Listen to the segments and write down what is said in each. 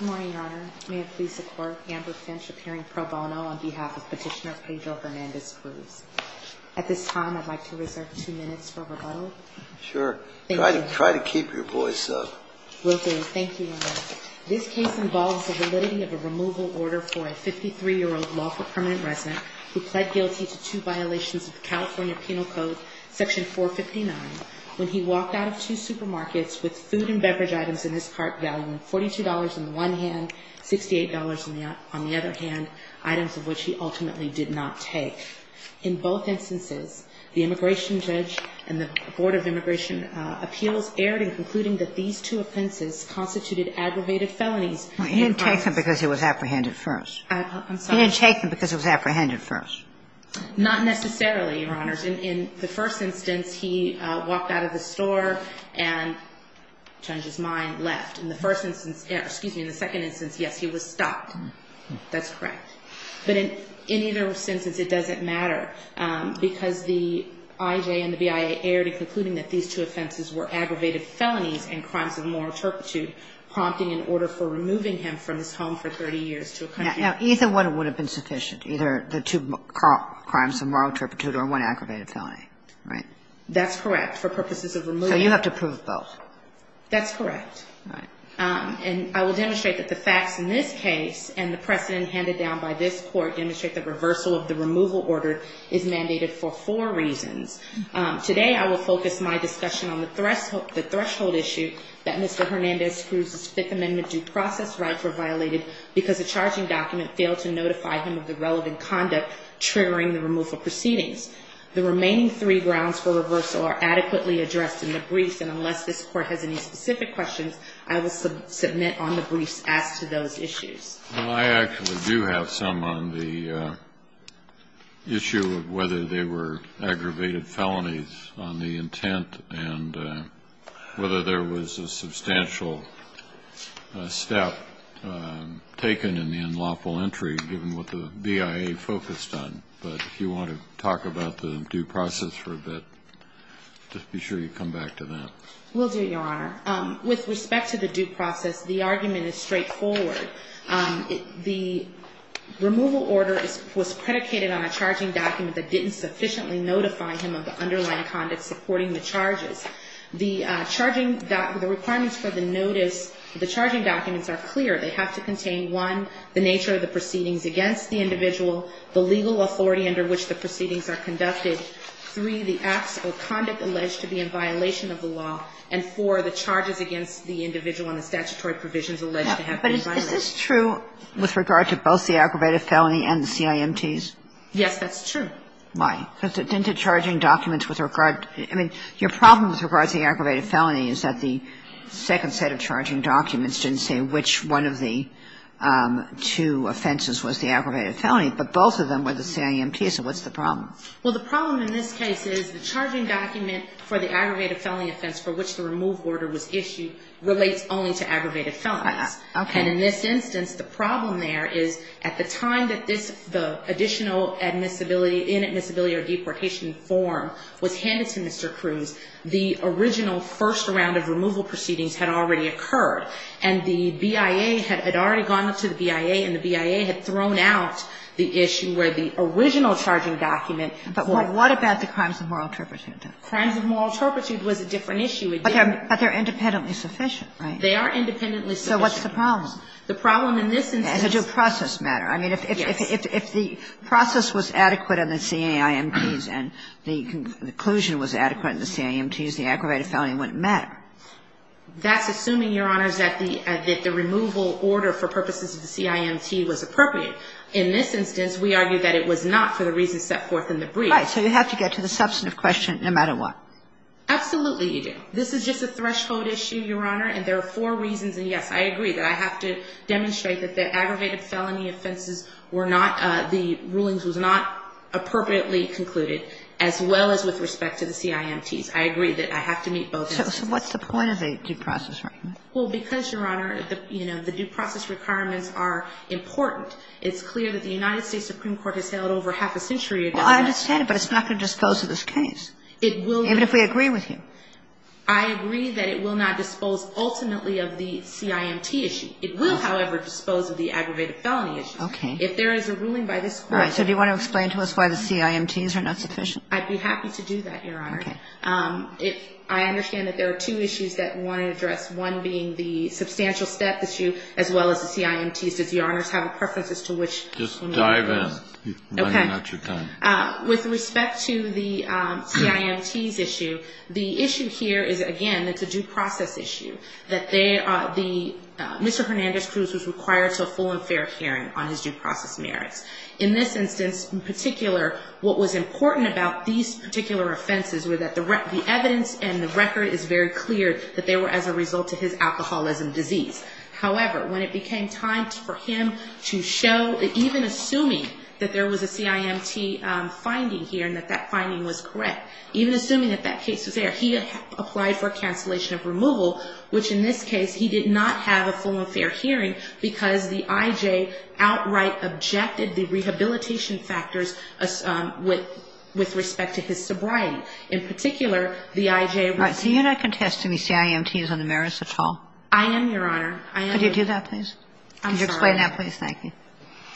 Good morning, Your Honor. May it please the Court, Amber Finch appearing pro bono on behalf of Petitioner Pedro Hernandez-Cruz. At this time, I'd like to reserve two minutes for rebuttal. Sure. Try to keep your voice up. Will do. Thank you, Your Honor. This case involves the validity of a removal order for a 53-year-old lawful permanent resident who pled guilty to two violations of the California Penal Code, Section 459, when he walked out of two supermarkets with food and beverage items in his cart, valuing $42 on the one hand, $68 on the other hand, items of which he ultimately did not take. In both instances, the immigration judge and the Board of Immigration Appeals erred in concluding that these two offenses constituted aggravated felonies. He didn't take them because he was apprehended first. I'm sorry? He didn't take them because he was apprehended first. Not necessarily, Your Honors. In the first instance, he walked out of the store and, change his mind, left. In the first instance – excuse me, in the second instance, yes, he was stopped. That's correct. But in either instance, it doesn't matter because the IJ and the BIA erred in concluding that these two offenses were aggravated felonies and crimes of moral turpitude, prompting an order for removing him from his home for 30 years to accompany him. Now, either one would have been sufficient, either the two crimes of moral turpitude or one aggravated felony, right? That's correct, for purposes of removal. So you have to prove both. That's correct. All right. And I will demonstrate that the facts in this case and the precedent handed down by this Court demonstrate that reversal of the removal order is mandated for four reasons. Today, I will focus my discussion on the threshold issue that Mr. Hernandez-Cruz's rights were violated because a charging document failed to notify him of the relevant conduct triggering the removal proceedings. The remaining three grounds for reversal are adequately addressed in the briefs, and unless this Court has any specific questions, I will submit on the briefs as to those issues. Well, I actually do have some on the issue of whether they were aggravated felonies on the intent and whether there was a substantial step taken in the unlawful entry, given what the BIA focused on. But if you want to talk about the due process for a bit, just be sure you come back to that. Will do, Your Honor. With respect to the due process, the argument is straightforward. The removal order was predicated on a charging document that didn't sufficiently notify him of the underlying conduct supporting the charges. The charging that the requirements for the notice, the charging documents are clear. They have to contain, one, the nature of the proceedings against the individual, the legal authority under which the proceedings are conducted, three, the acts or conduct alleged to be in violation of the law, and four, the charges against the individual and the statutory provisions alleged to have been violated. But is this true with regard to both the aggravated felony and the CIMTs? Yes, that's true. Why? Because it's in the charging documents with regard to the – I mean, your problem with regard to the aggravated felony is that the second set of charging documents didn't say which one of the two offenses was the aggravated felony, but both of them were the CIMTs, so what's the problem? Well, the problem in this case is the charging document for the aggravated felony offense for which the remove order was issued relates only to aggravated felonies. Okay. And in this instance, the problem there is at the time that this, the additional admissibility – inadmissibility or deportation form was handed to Mr. Cruz, the original first round of removal proceedings had already occurred, and the BIA had already gone up to the BIA and the BIA had thrown out the issue where the original charging document for – But what about the crimes of moral turpitude? Crimes of moral turpitude was a different issue. But they're independently sufficient, right? They are independently sufficient. So what's the problem? The problem in this instance – As a due process matter. Yes. If the process was adequate on the CIMTs and the conclusion was adequate on the CIMTs, the aggravated felony wouldn't matter. That's assuming, Your Honor, that the removal order for purposes of the CIMT was appropriate. In this instance, we argue that it was not for the reasons set forth in the brief. Right. So you have to get to the substantive question no matter what. Absolutely you do. This is just a threshold issue, Your Honor, and there are four reasons, and yes, I agree that I have to demonstrate that the aggravated felony offenses were not – the rulings was not appropriately concluded, as well as with respect to the CIMTs. I agree that I have to meet both instances. So what's the point of a due process argument? Well, because, Your Honor, you know, the due process requirements are important, it's clear that the United States Supreme Court has held over half a century ago – Well, I understand it, but it's not going to dispose of this case. It will not. Even if we agree with you. I agree that it will not dispose ultimately of the CIMT issue. It will, however, dispose of the aggravated felony issue. Okay. If there is a ruling by this court – All right. So do you want to explain to us why the CIMTs are not sufficient? I'd be happy to do that, Your Honor. Okay. I understand that there are two issues that we want to address, one being the substantial step issue as well as the CIMTs. Does Your Honor have a preference as to which – Just dive in. Okay. I'm running out of time. With respect to the CIMTs issue, the issue here is, again, it's a due process issue, that Mr. Hernandez-Cruz was required to a full and fair hearing on his due process merits. In this instance, in particular, what was important about these particular offenses were that the evidence and the record is very clear that they were as a result of his alcoholism disease. However, when it became time for him to show – even assuming that there was a CIMT finding here and that that finding was correct, even assuming that that case was there, he applied for a cancellation of removal, which in this case he did not have a full and fair hearing because the IJ outright objected the rehabilitation factors with respect to his sobriety. In particular, the IJ – All right. So you're not contesting the CIMTs on the merits at all? I am, Your Honor. Could you do that, please? I'm sorry. Could you explain that, please? Thank you.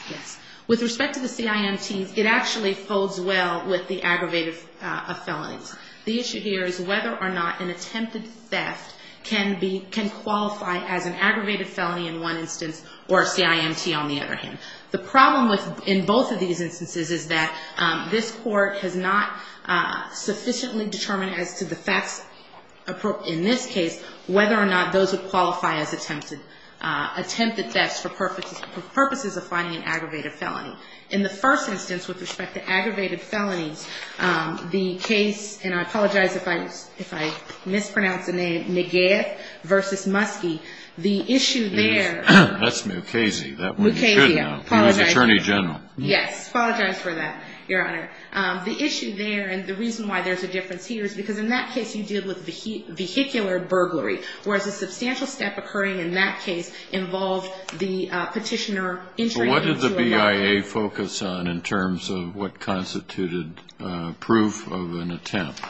Yes. With respect to the CIMTs, it actually folds well with the aggravated felonies. The issue here is whether or not an attempted theft can be – can qualify as an aggravated felony in one instance or a CIMT on the other hand. The problem with – in both of these instances is that this Court has not sufficiently determined as to the facts in this case whether or not those would qualify as attempted thefts for purposes of finding an aggravated felony. In the first instance, with respect to aggravated felonies, the case – and I apologize if I mispronounce the name – Negev v. Muskie, the issue there – That's Mukasey. Mukasey, I apologize. That one you should know. Mukasey, I apologize. He was Attorney General. Yes. I apologize for that, Your Honor. The issue there, and the reason why there's a difference here, is because in that case you deal with vehicular burglary, whereas the substantial step occurring in that case involved the Petitioner entering into a lock- So what did the BIA focus on in terms of what constituted proof of an attempt?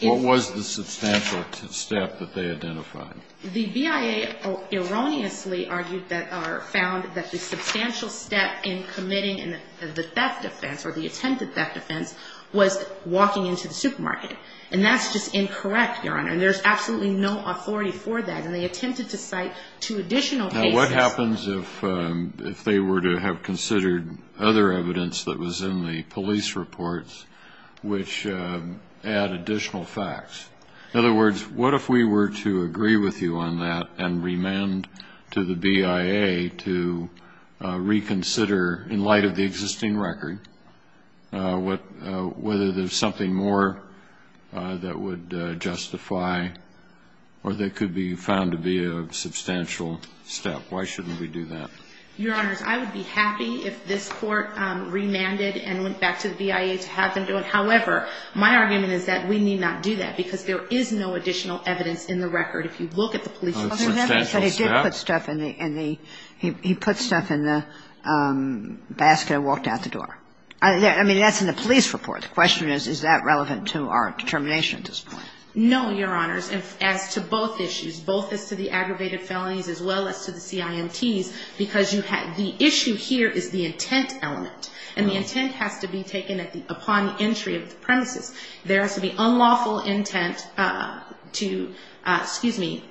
What was the substantial step that they identified? The BIA erroneously argued that – or found that the substantial step in committing the theft offense, or the attempted theft offense, was walking into the supermarket. And that's just incorrect, Your Honor. And there's absolutely no authority for that. And they attempted to cite two additional cases. Now, what happens if they were to have considered other evidence that was in the police reports which add additional facts? In other words, what if we were to agree with you on that and remand to the BIA to reconsider in light of the existing record whether there's something more that would justify or that could be found to be a substantial step? Why shouldn't we do that? Your Honors, I would be happy if this Court remanded and went back to the BIA to have them do it. However, my argument is that we need not do that because there is no additional evidence in the record. If you look at the police report- A substantial step? He put stuff in the basket and walked out the door. I mean, that's in the police report. The question is, is that relevant to our determination at this point? No, Your Honors. As to both issues, both as to the aggravated felonies as well as to the CIMTs, because you have – the issue here is the intent element. There has to be unlawful intent to – excuse me,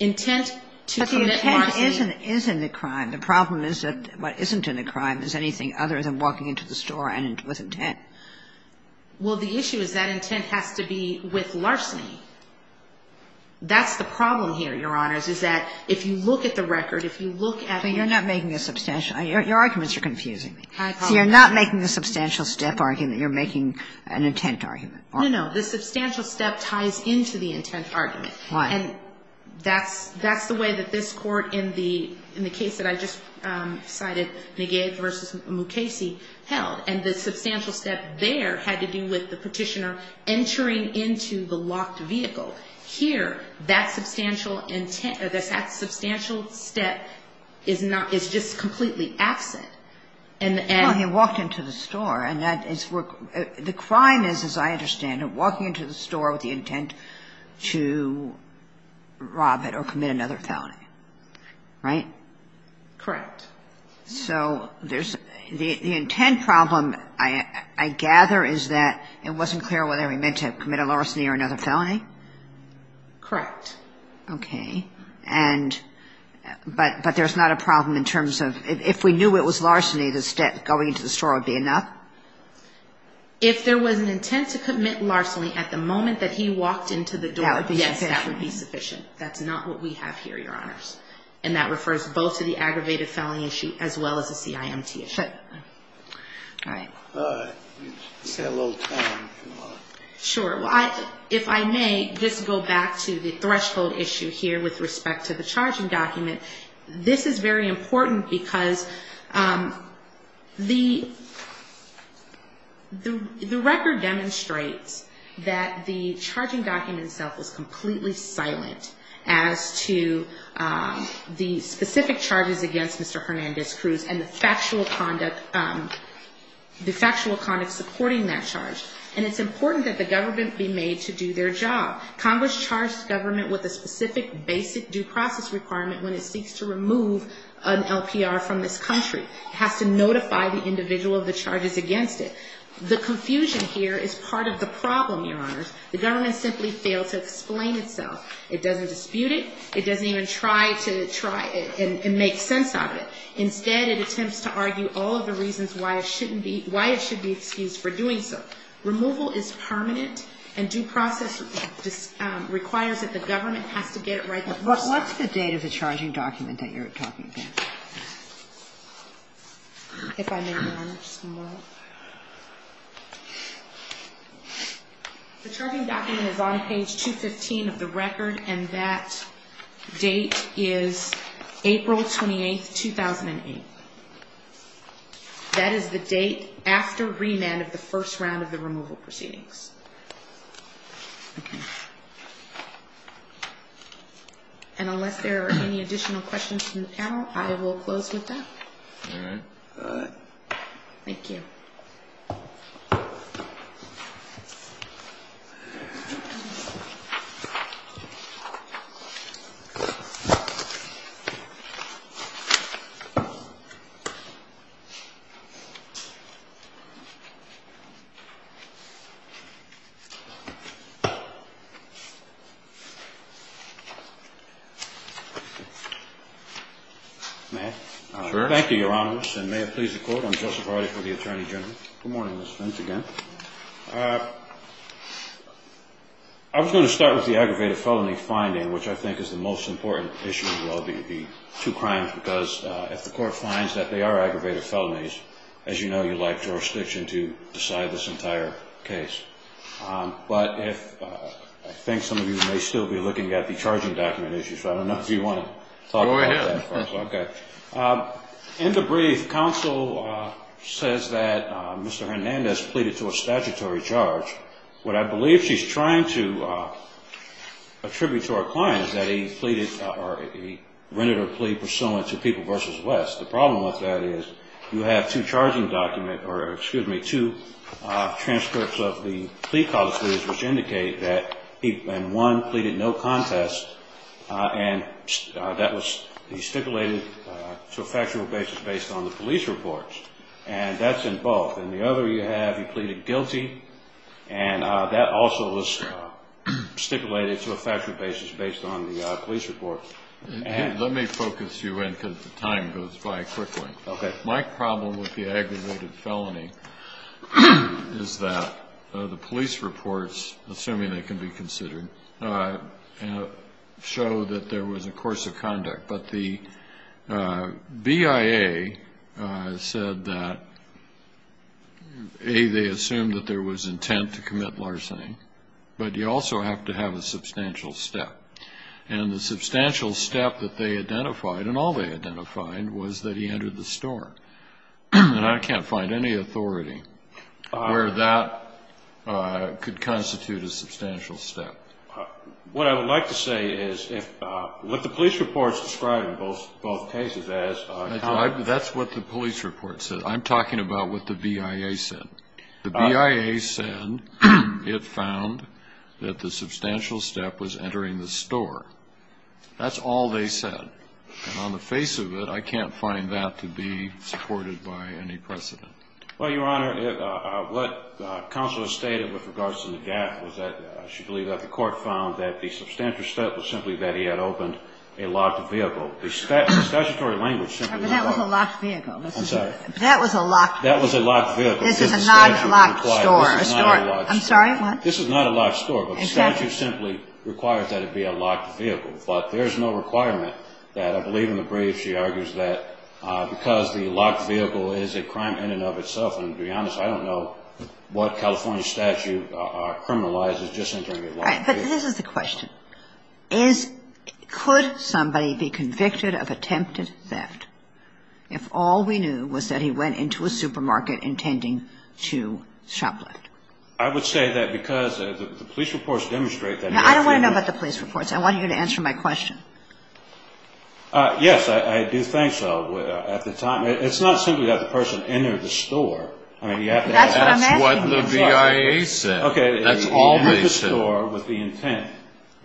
intent to commit larceny. But the intent is in the crime. The problem is that what isn't in the crime is anything other than walking into the store with intent. Well, the issue is that intent has to be with larceny. That's the problem here, Your Honors, is that if you look at the record, if you look at- But you're not making a substantial – your arguments are confusing me. I apologize. You're not making the substantial step argument. You're making an intent argument. No, no. The substantial step ties into the intent argument. Why? And that's the way that this Court in the case that I just cited, Negate v. Mukasey, held. And the substantial step there had to do with the Petitioner entering into the locked vehicle. Here, that substantial step is not – is just completely absent. Well, he walked into the store, and that is where – the crime is, as I understand it, walking into the store with the intent to rob it or commit another felony. Right? Correct. So there's – the intent problem, I gather, is that it wasn't clear whether he meant to commit a larceny or another felony? Correct. Okay. And – but there's not a problem in terms of – if we knew it was larceny, the step going into the store would be enough? If there was an intent to commit larceny at the moment that he walked into the door, yes, that would be sufficient. That would be sufficient. That's not what we have here, Your Honors. And that refers both to the aggravated felony issue as well as the CIMT issue. Sure. All right. All right. We've got a little time if you want. Sure. Well, if I may, just to go back to the threshold issue here with respect to the charging document, this is very important because the record demonstrates that the charging document itself is completely silent as to the specific charges against Mr. Hernandez-Cruz and the factual conduct – the factual conduct supporting that charge. And it's important that the government be made to do their job. Congress charged government with a specific basic due process requirement when it seeks to remove an LPR from this country. It has to notify the individual of the charges against it. The confusion here is part of the problem, Your Honors. The government simply failed to explain itself. It doesn't dispute it. It doesn't even try to try and make sense of it. Instead, it attempts to argue all of the reasons why it shouldn't be – why it should be excused for doing so. Removal is permanent, and due process requires that the government has to get it right. But what's the date of the charging document that you're talking about? If I may, Your Honor, just one moment. The charging document is on page 215 of the record, and that date is April 28, 2008. That is the date after remand of the first round of the removal proceedings. And unless there are any additional questions from the panel, I will close with that. All right. All right. Thank you. Thank you. Sure. Good morning, Mr. General. Good morning, Ms. Finch, again. I was going to start with the aggravated felony finding, which I think is the most important issue of all the two crimes, because if the court finds that they are aggravated felonies, as you know, you lack jurisdiction to decide this entire case. But I think some of you may still be looking at the charging document issue, so I don't know if you want to talk about that first. Go ahead. Okay. In the brief, counsel says that Mr. Hernandez pleaded to a statutory charge. What I believe she's trying to attribute to our client is that he pleaded or he rendered a plea pursuant to People v. West. The problem with that is you have two charging document or, excuse me, two transcripts of the plea colleges, which indicate that he, in one, pleaded no contest, and that was stipulated to a factual basis based on the police reports. And that's in both. In the other you have he pleaded guilty, and that also was stipulated to a factual basis based on the police reports. Let me focus you in because the time goes by quickly. Okay. My problem with the aggravated felony is that the police reports, assuming they can be considered, show that there was a course of conduct. But the BIA said that, A, they assumed that there was intent to commit larceny, but you also have to have a substantial step. And the substantial step that they identified, and all they identified, was that he entered the store. And I can't find any authority where that could constitute a substantial step. What I would like to say is if what the police reports describe in both cases as --. That's what the police report said. I'm talking about what the BIA said. The BIA said it found that the substantial step was entering the store. That's all they said. And on the face of it, I can't find that to be supported by any precedent. Well, Your Honor, what counsel has stated with regards to the gap was that I should believe that the court found that the substantial step was simply that he had opened a locked vehicle. The statutory language simply was that. That was a locked vehicle. I'm sorry. That was a locked vehicle. That was a locked vehicle. This is a non-locked store. This is not a locked store. I'm sorry, what? This is not a locked store. But the statute simply requires that it be a locked vehicle. But there's no requirement that I believe in the brief she argues that because the locked vehicle is a crime in and of itself, and to be honest, I don't know what California statute criminalizes just entering a locked vehicle. But this is the question. Could somebody be convicted of attempted theft if all we knew was that he went into a supermarket intending to shoplift? I would say that because the police reports demonstrate that. I don't want to know about the police reports. I want you to answer my question. Yes, I do think so at the time. It's not simply that the person entered the store. That's what I'm asking you. That's what the BIA said. That's all they said. He entered the store with the intent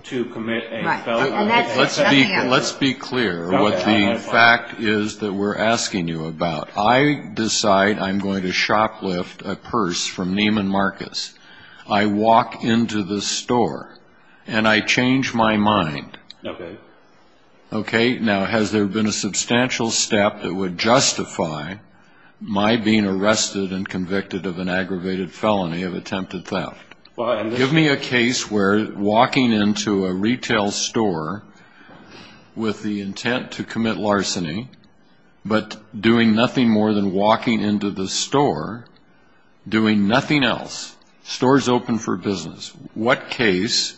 to commit a felony. Let's be clear what the fact is that we're asking you about. I decide I'm going to shoplift a purse from Neiman Marcus. I walk into the store, and I change my mind. Okay. Okay. Now, has there been a substantial step that would justify my being arrested and convicted of an aggravated felony of attempted theft? Give me a case where walking into a retail store with the intent to commit larceny, but doing nothing more than walking into the store, doing nothing else. Store is open for business. What case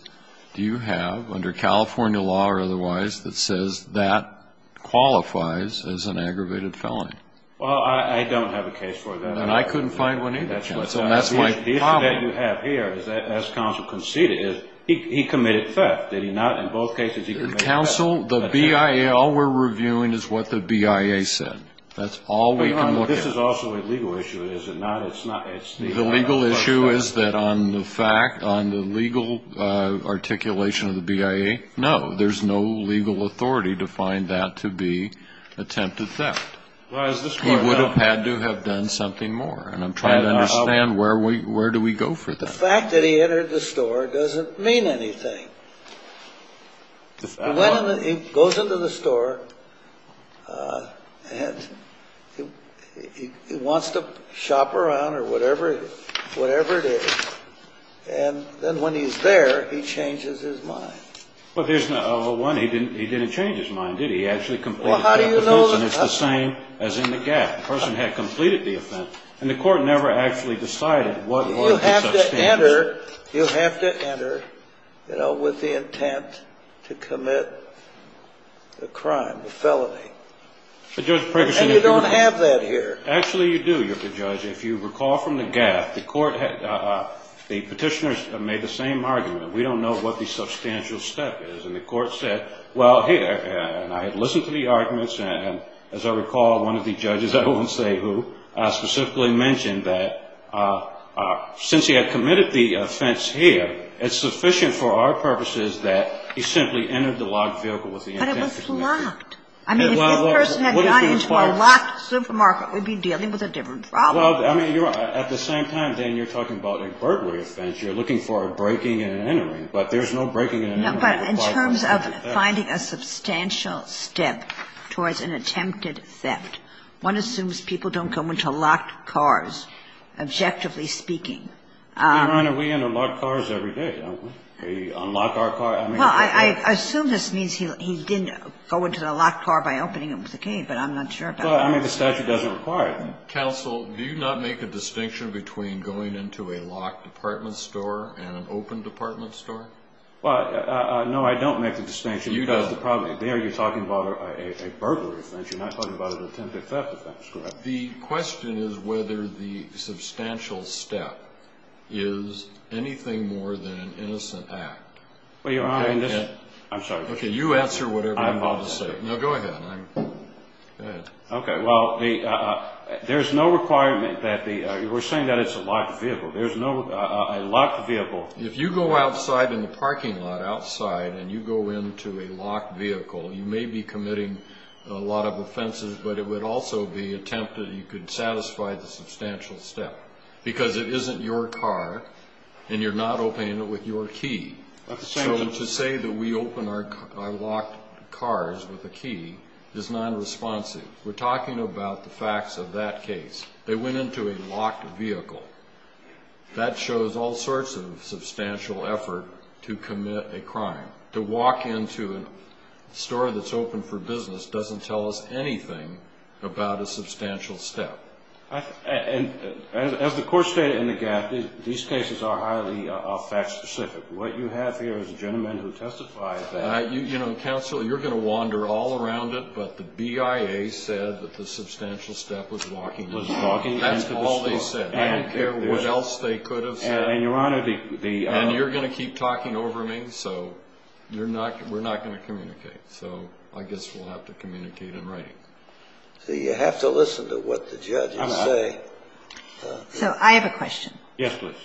do you have, under California law or otherwise, that says that qualifies as an aggravated felony? Well, I don't have a case for that. And I couldn't find one either. So that's my problem. The issue that you have here, as counsel conceded, is he committed theft. Did he not? In both cases, he committed theft. Counsel, the BIA, all we're reviewing is what the BIA said. That's all we can look at. This is also a legal issue, is it not? The legal issue is that on the fact, on the legal articulation of the BIA, no. There's no legal authority to find that to be attempted theft. He would have had to have done something more, and I'm trying to understand where do we go for that. The fact that he entered the store doesn't mean anything. He goes into the store and he wants to shop around or whatever it is, and then when he's there, he changes his mind. Well, there's one he didn't change his mind, did he? He actually completed the offense, and it's the same as in the gap. The person had completed the offense, and the court never actually decided what order to substantiate. You have to enter with the intent to commit the crime, the felony. And you don't have that here. Actually, you do, Judge. If you recall from the gap, the petitioners made the same argument. We don't know what the substantial step is, and the court said, well, hey, and I had listened to the arguments, and as I recall, one of the judges, I won't say who, specifically mentioned that since he had committed the offense here, it's sufficient for our purposes that he simply entered the locked vehicle with the intent to commit the crime. But it was locked. I mean, if this person had gone into a locked supermarket, we'd be dealing with a different problem. Well, I mean, at the same time, then, you're talking about an inquiry offense. You're looking for a breaking and an entering, but there's no breaking and entering. No, but in terms of finding a substantial step towards an attempted theft, one assumes people don't go into locked cars, objectively speaking. Your Honor, we enter locked cars every day, don't we? We unlock our car. Well, I assume this means he didn't go into the locked car by opening it with a key, but I'm not sure about that. Well, I mean, the statute doesn't require it. Counsel, do you not make a distinction between going into a locked department store and an open department store? Well, no, I don't make the distinction. You do. There you're talking about a burglary offense. You're not talking about an attempted theft offense, correct? The question is whether the substantial step is anything more than an innocent act. Well, Your Honor, I'm sorry. Okay, you answer whatever I'm about to say. No, go ahead. Go ahead. Okay, well, there's no requirement that the we're saying that it's a locked vehicle. There's no a locked vehicle. If you go outside in the parking lot outside and you go into a locked vehicle, you may be committing a lot of offenses, but it would also be attempted that you could satisfy the substantial step, because it isn't your car and you're not opening it with your key. So to say that we open our locked cars with a key is nonresponsive. We're talking about the facts of that case. They went into a locked vehicle. That shows all sorts of substantial effort to commit a crime. To walk into a store that's open for business doesn't tell us anything about a substantial step. And as the court stated in the gap, these cases are highly fact specific. What you have here is a gentleman who testified that. You know, counsel, you're going to wander all around it, but the BIA said that the substantial step was walking into the store. That's all they said. I don't care what else they could have said. And, Your Honor, the... And you're going to keep talking over me. So we're not going to communicate. So I guess we'll have to communicate in writing. So you have to listen to what the judges say. I'm not. So I have a question. Yes, please.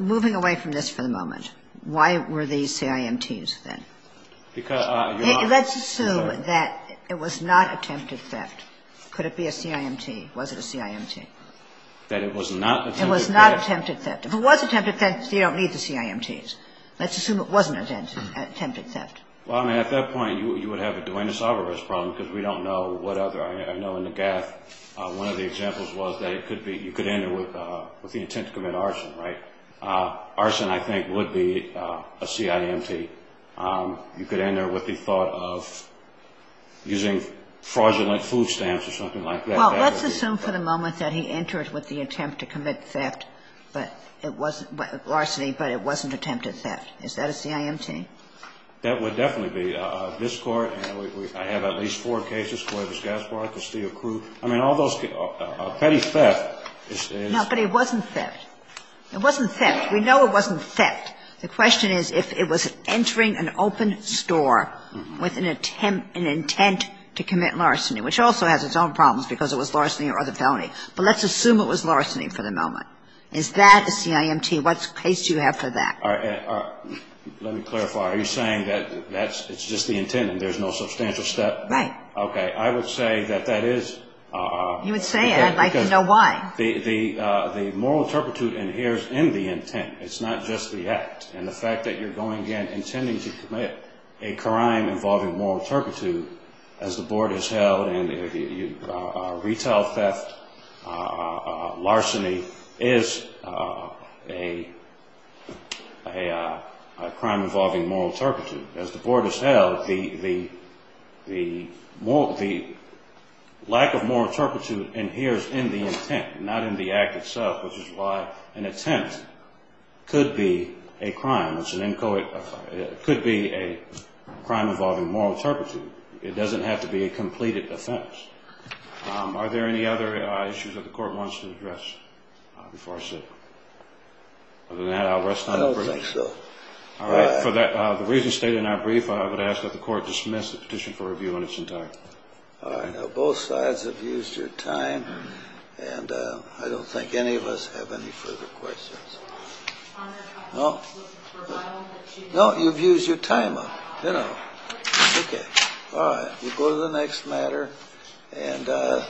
Moving away from this for the moment, why were these CIMTs then? Because... Let's assume that it was not attempted theft. Could it be a CIMT? Was it a CIMT? That it was not attempted theft. It was not attempted theft. If it was attempted theft, you don't need the CIMTs. Let's assume it wasn't attempted theft. Well, I mean, at that point, you would have a Duenas-Alvarez problem because we don't know what other. I know in the gaffe, one of the examples was that it could be... you could enter with the intent to commit arson, right? Arson, I think, would be a CIMT. You could enter with the thought of using fraudulent food stamps or something like that. Well, let's assume for the moment that he entered with the attempt to commit theft, but it wasn't... larceny, but it wasn't attempted theft. Is that a CIMT? That would definitely be... This Court, and I have at least four cases, Cuevas-Gaspar, Castillo-Cruz. I mean, all those... petty theft is... No, but it wasn't theft. It wasn't theft. We know it wasn't theft. The question is if it was entering an open store with an intent to commit larceny, which also has its own problems because it was larceny or other felony. But let's assume it was larceny for the moment. Is that a CIMT? What case do you have for that? Let me clarify. Are you saying that it's just the intent and there's no substantial step? Right. Okay. I would say that that is... You would say it. I'd like to know why. The moral turpitude inheres in the intent. It's not just the act. And the fact that you're going in intending to commit a crime involving moral turpitude, as the Board has held, and retail theft, larceny, is a crime involving moral turpitude. As the Board has held, the lack of moral turpitude inheres in the intent, not in the act itself, which is why an attempt could be a crime. It's an inchoate. It could be a crime involving moral turpitude. It doesn't have to be a completed offense. Are there any other issues that the Court wants to address before I sit? Other than that, I'll rest on your brief. I don't think so. All right. For the reasons stated in our brief, I would ask that the Court dismiss the petition for review in its entirety. All right. Now, both sides have used your time, and I don't think any of us have any further questions. No? No, you've used your time up, you know. Okay. All right. We'll go to the next matter. And let's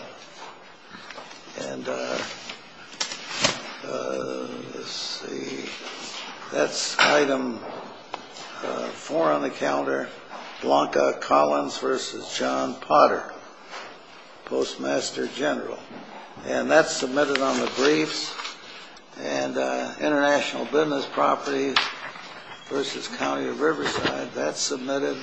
see. That's Item 4 on the calendar, Blanca Collins v. John Potter, Postmaster General. And that's submitted on the briefs. And International Business Properties v. County of Riverside. That's submitted.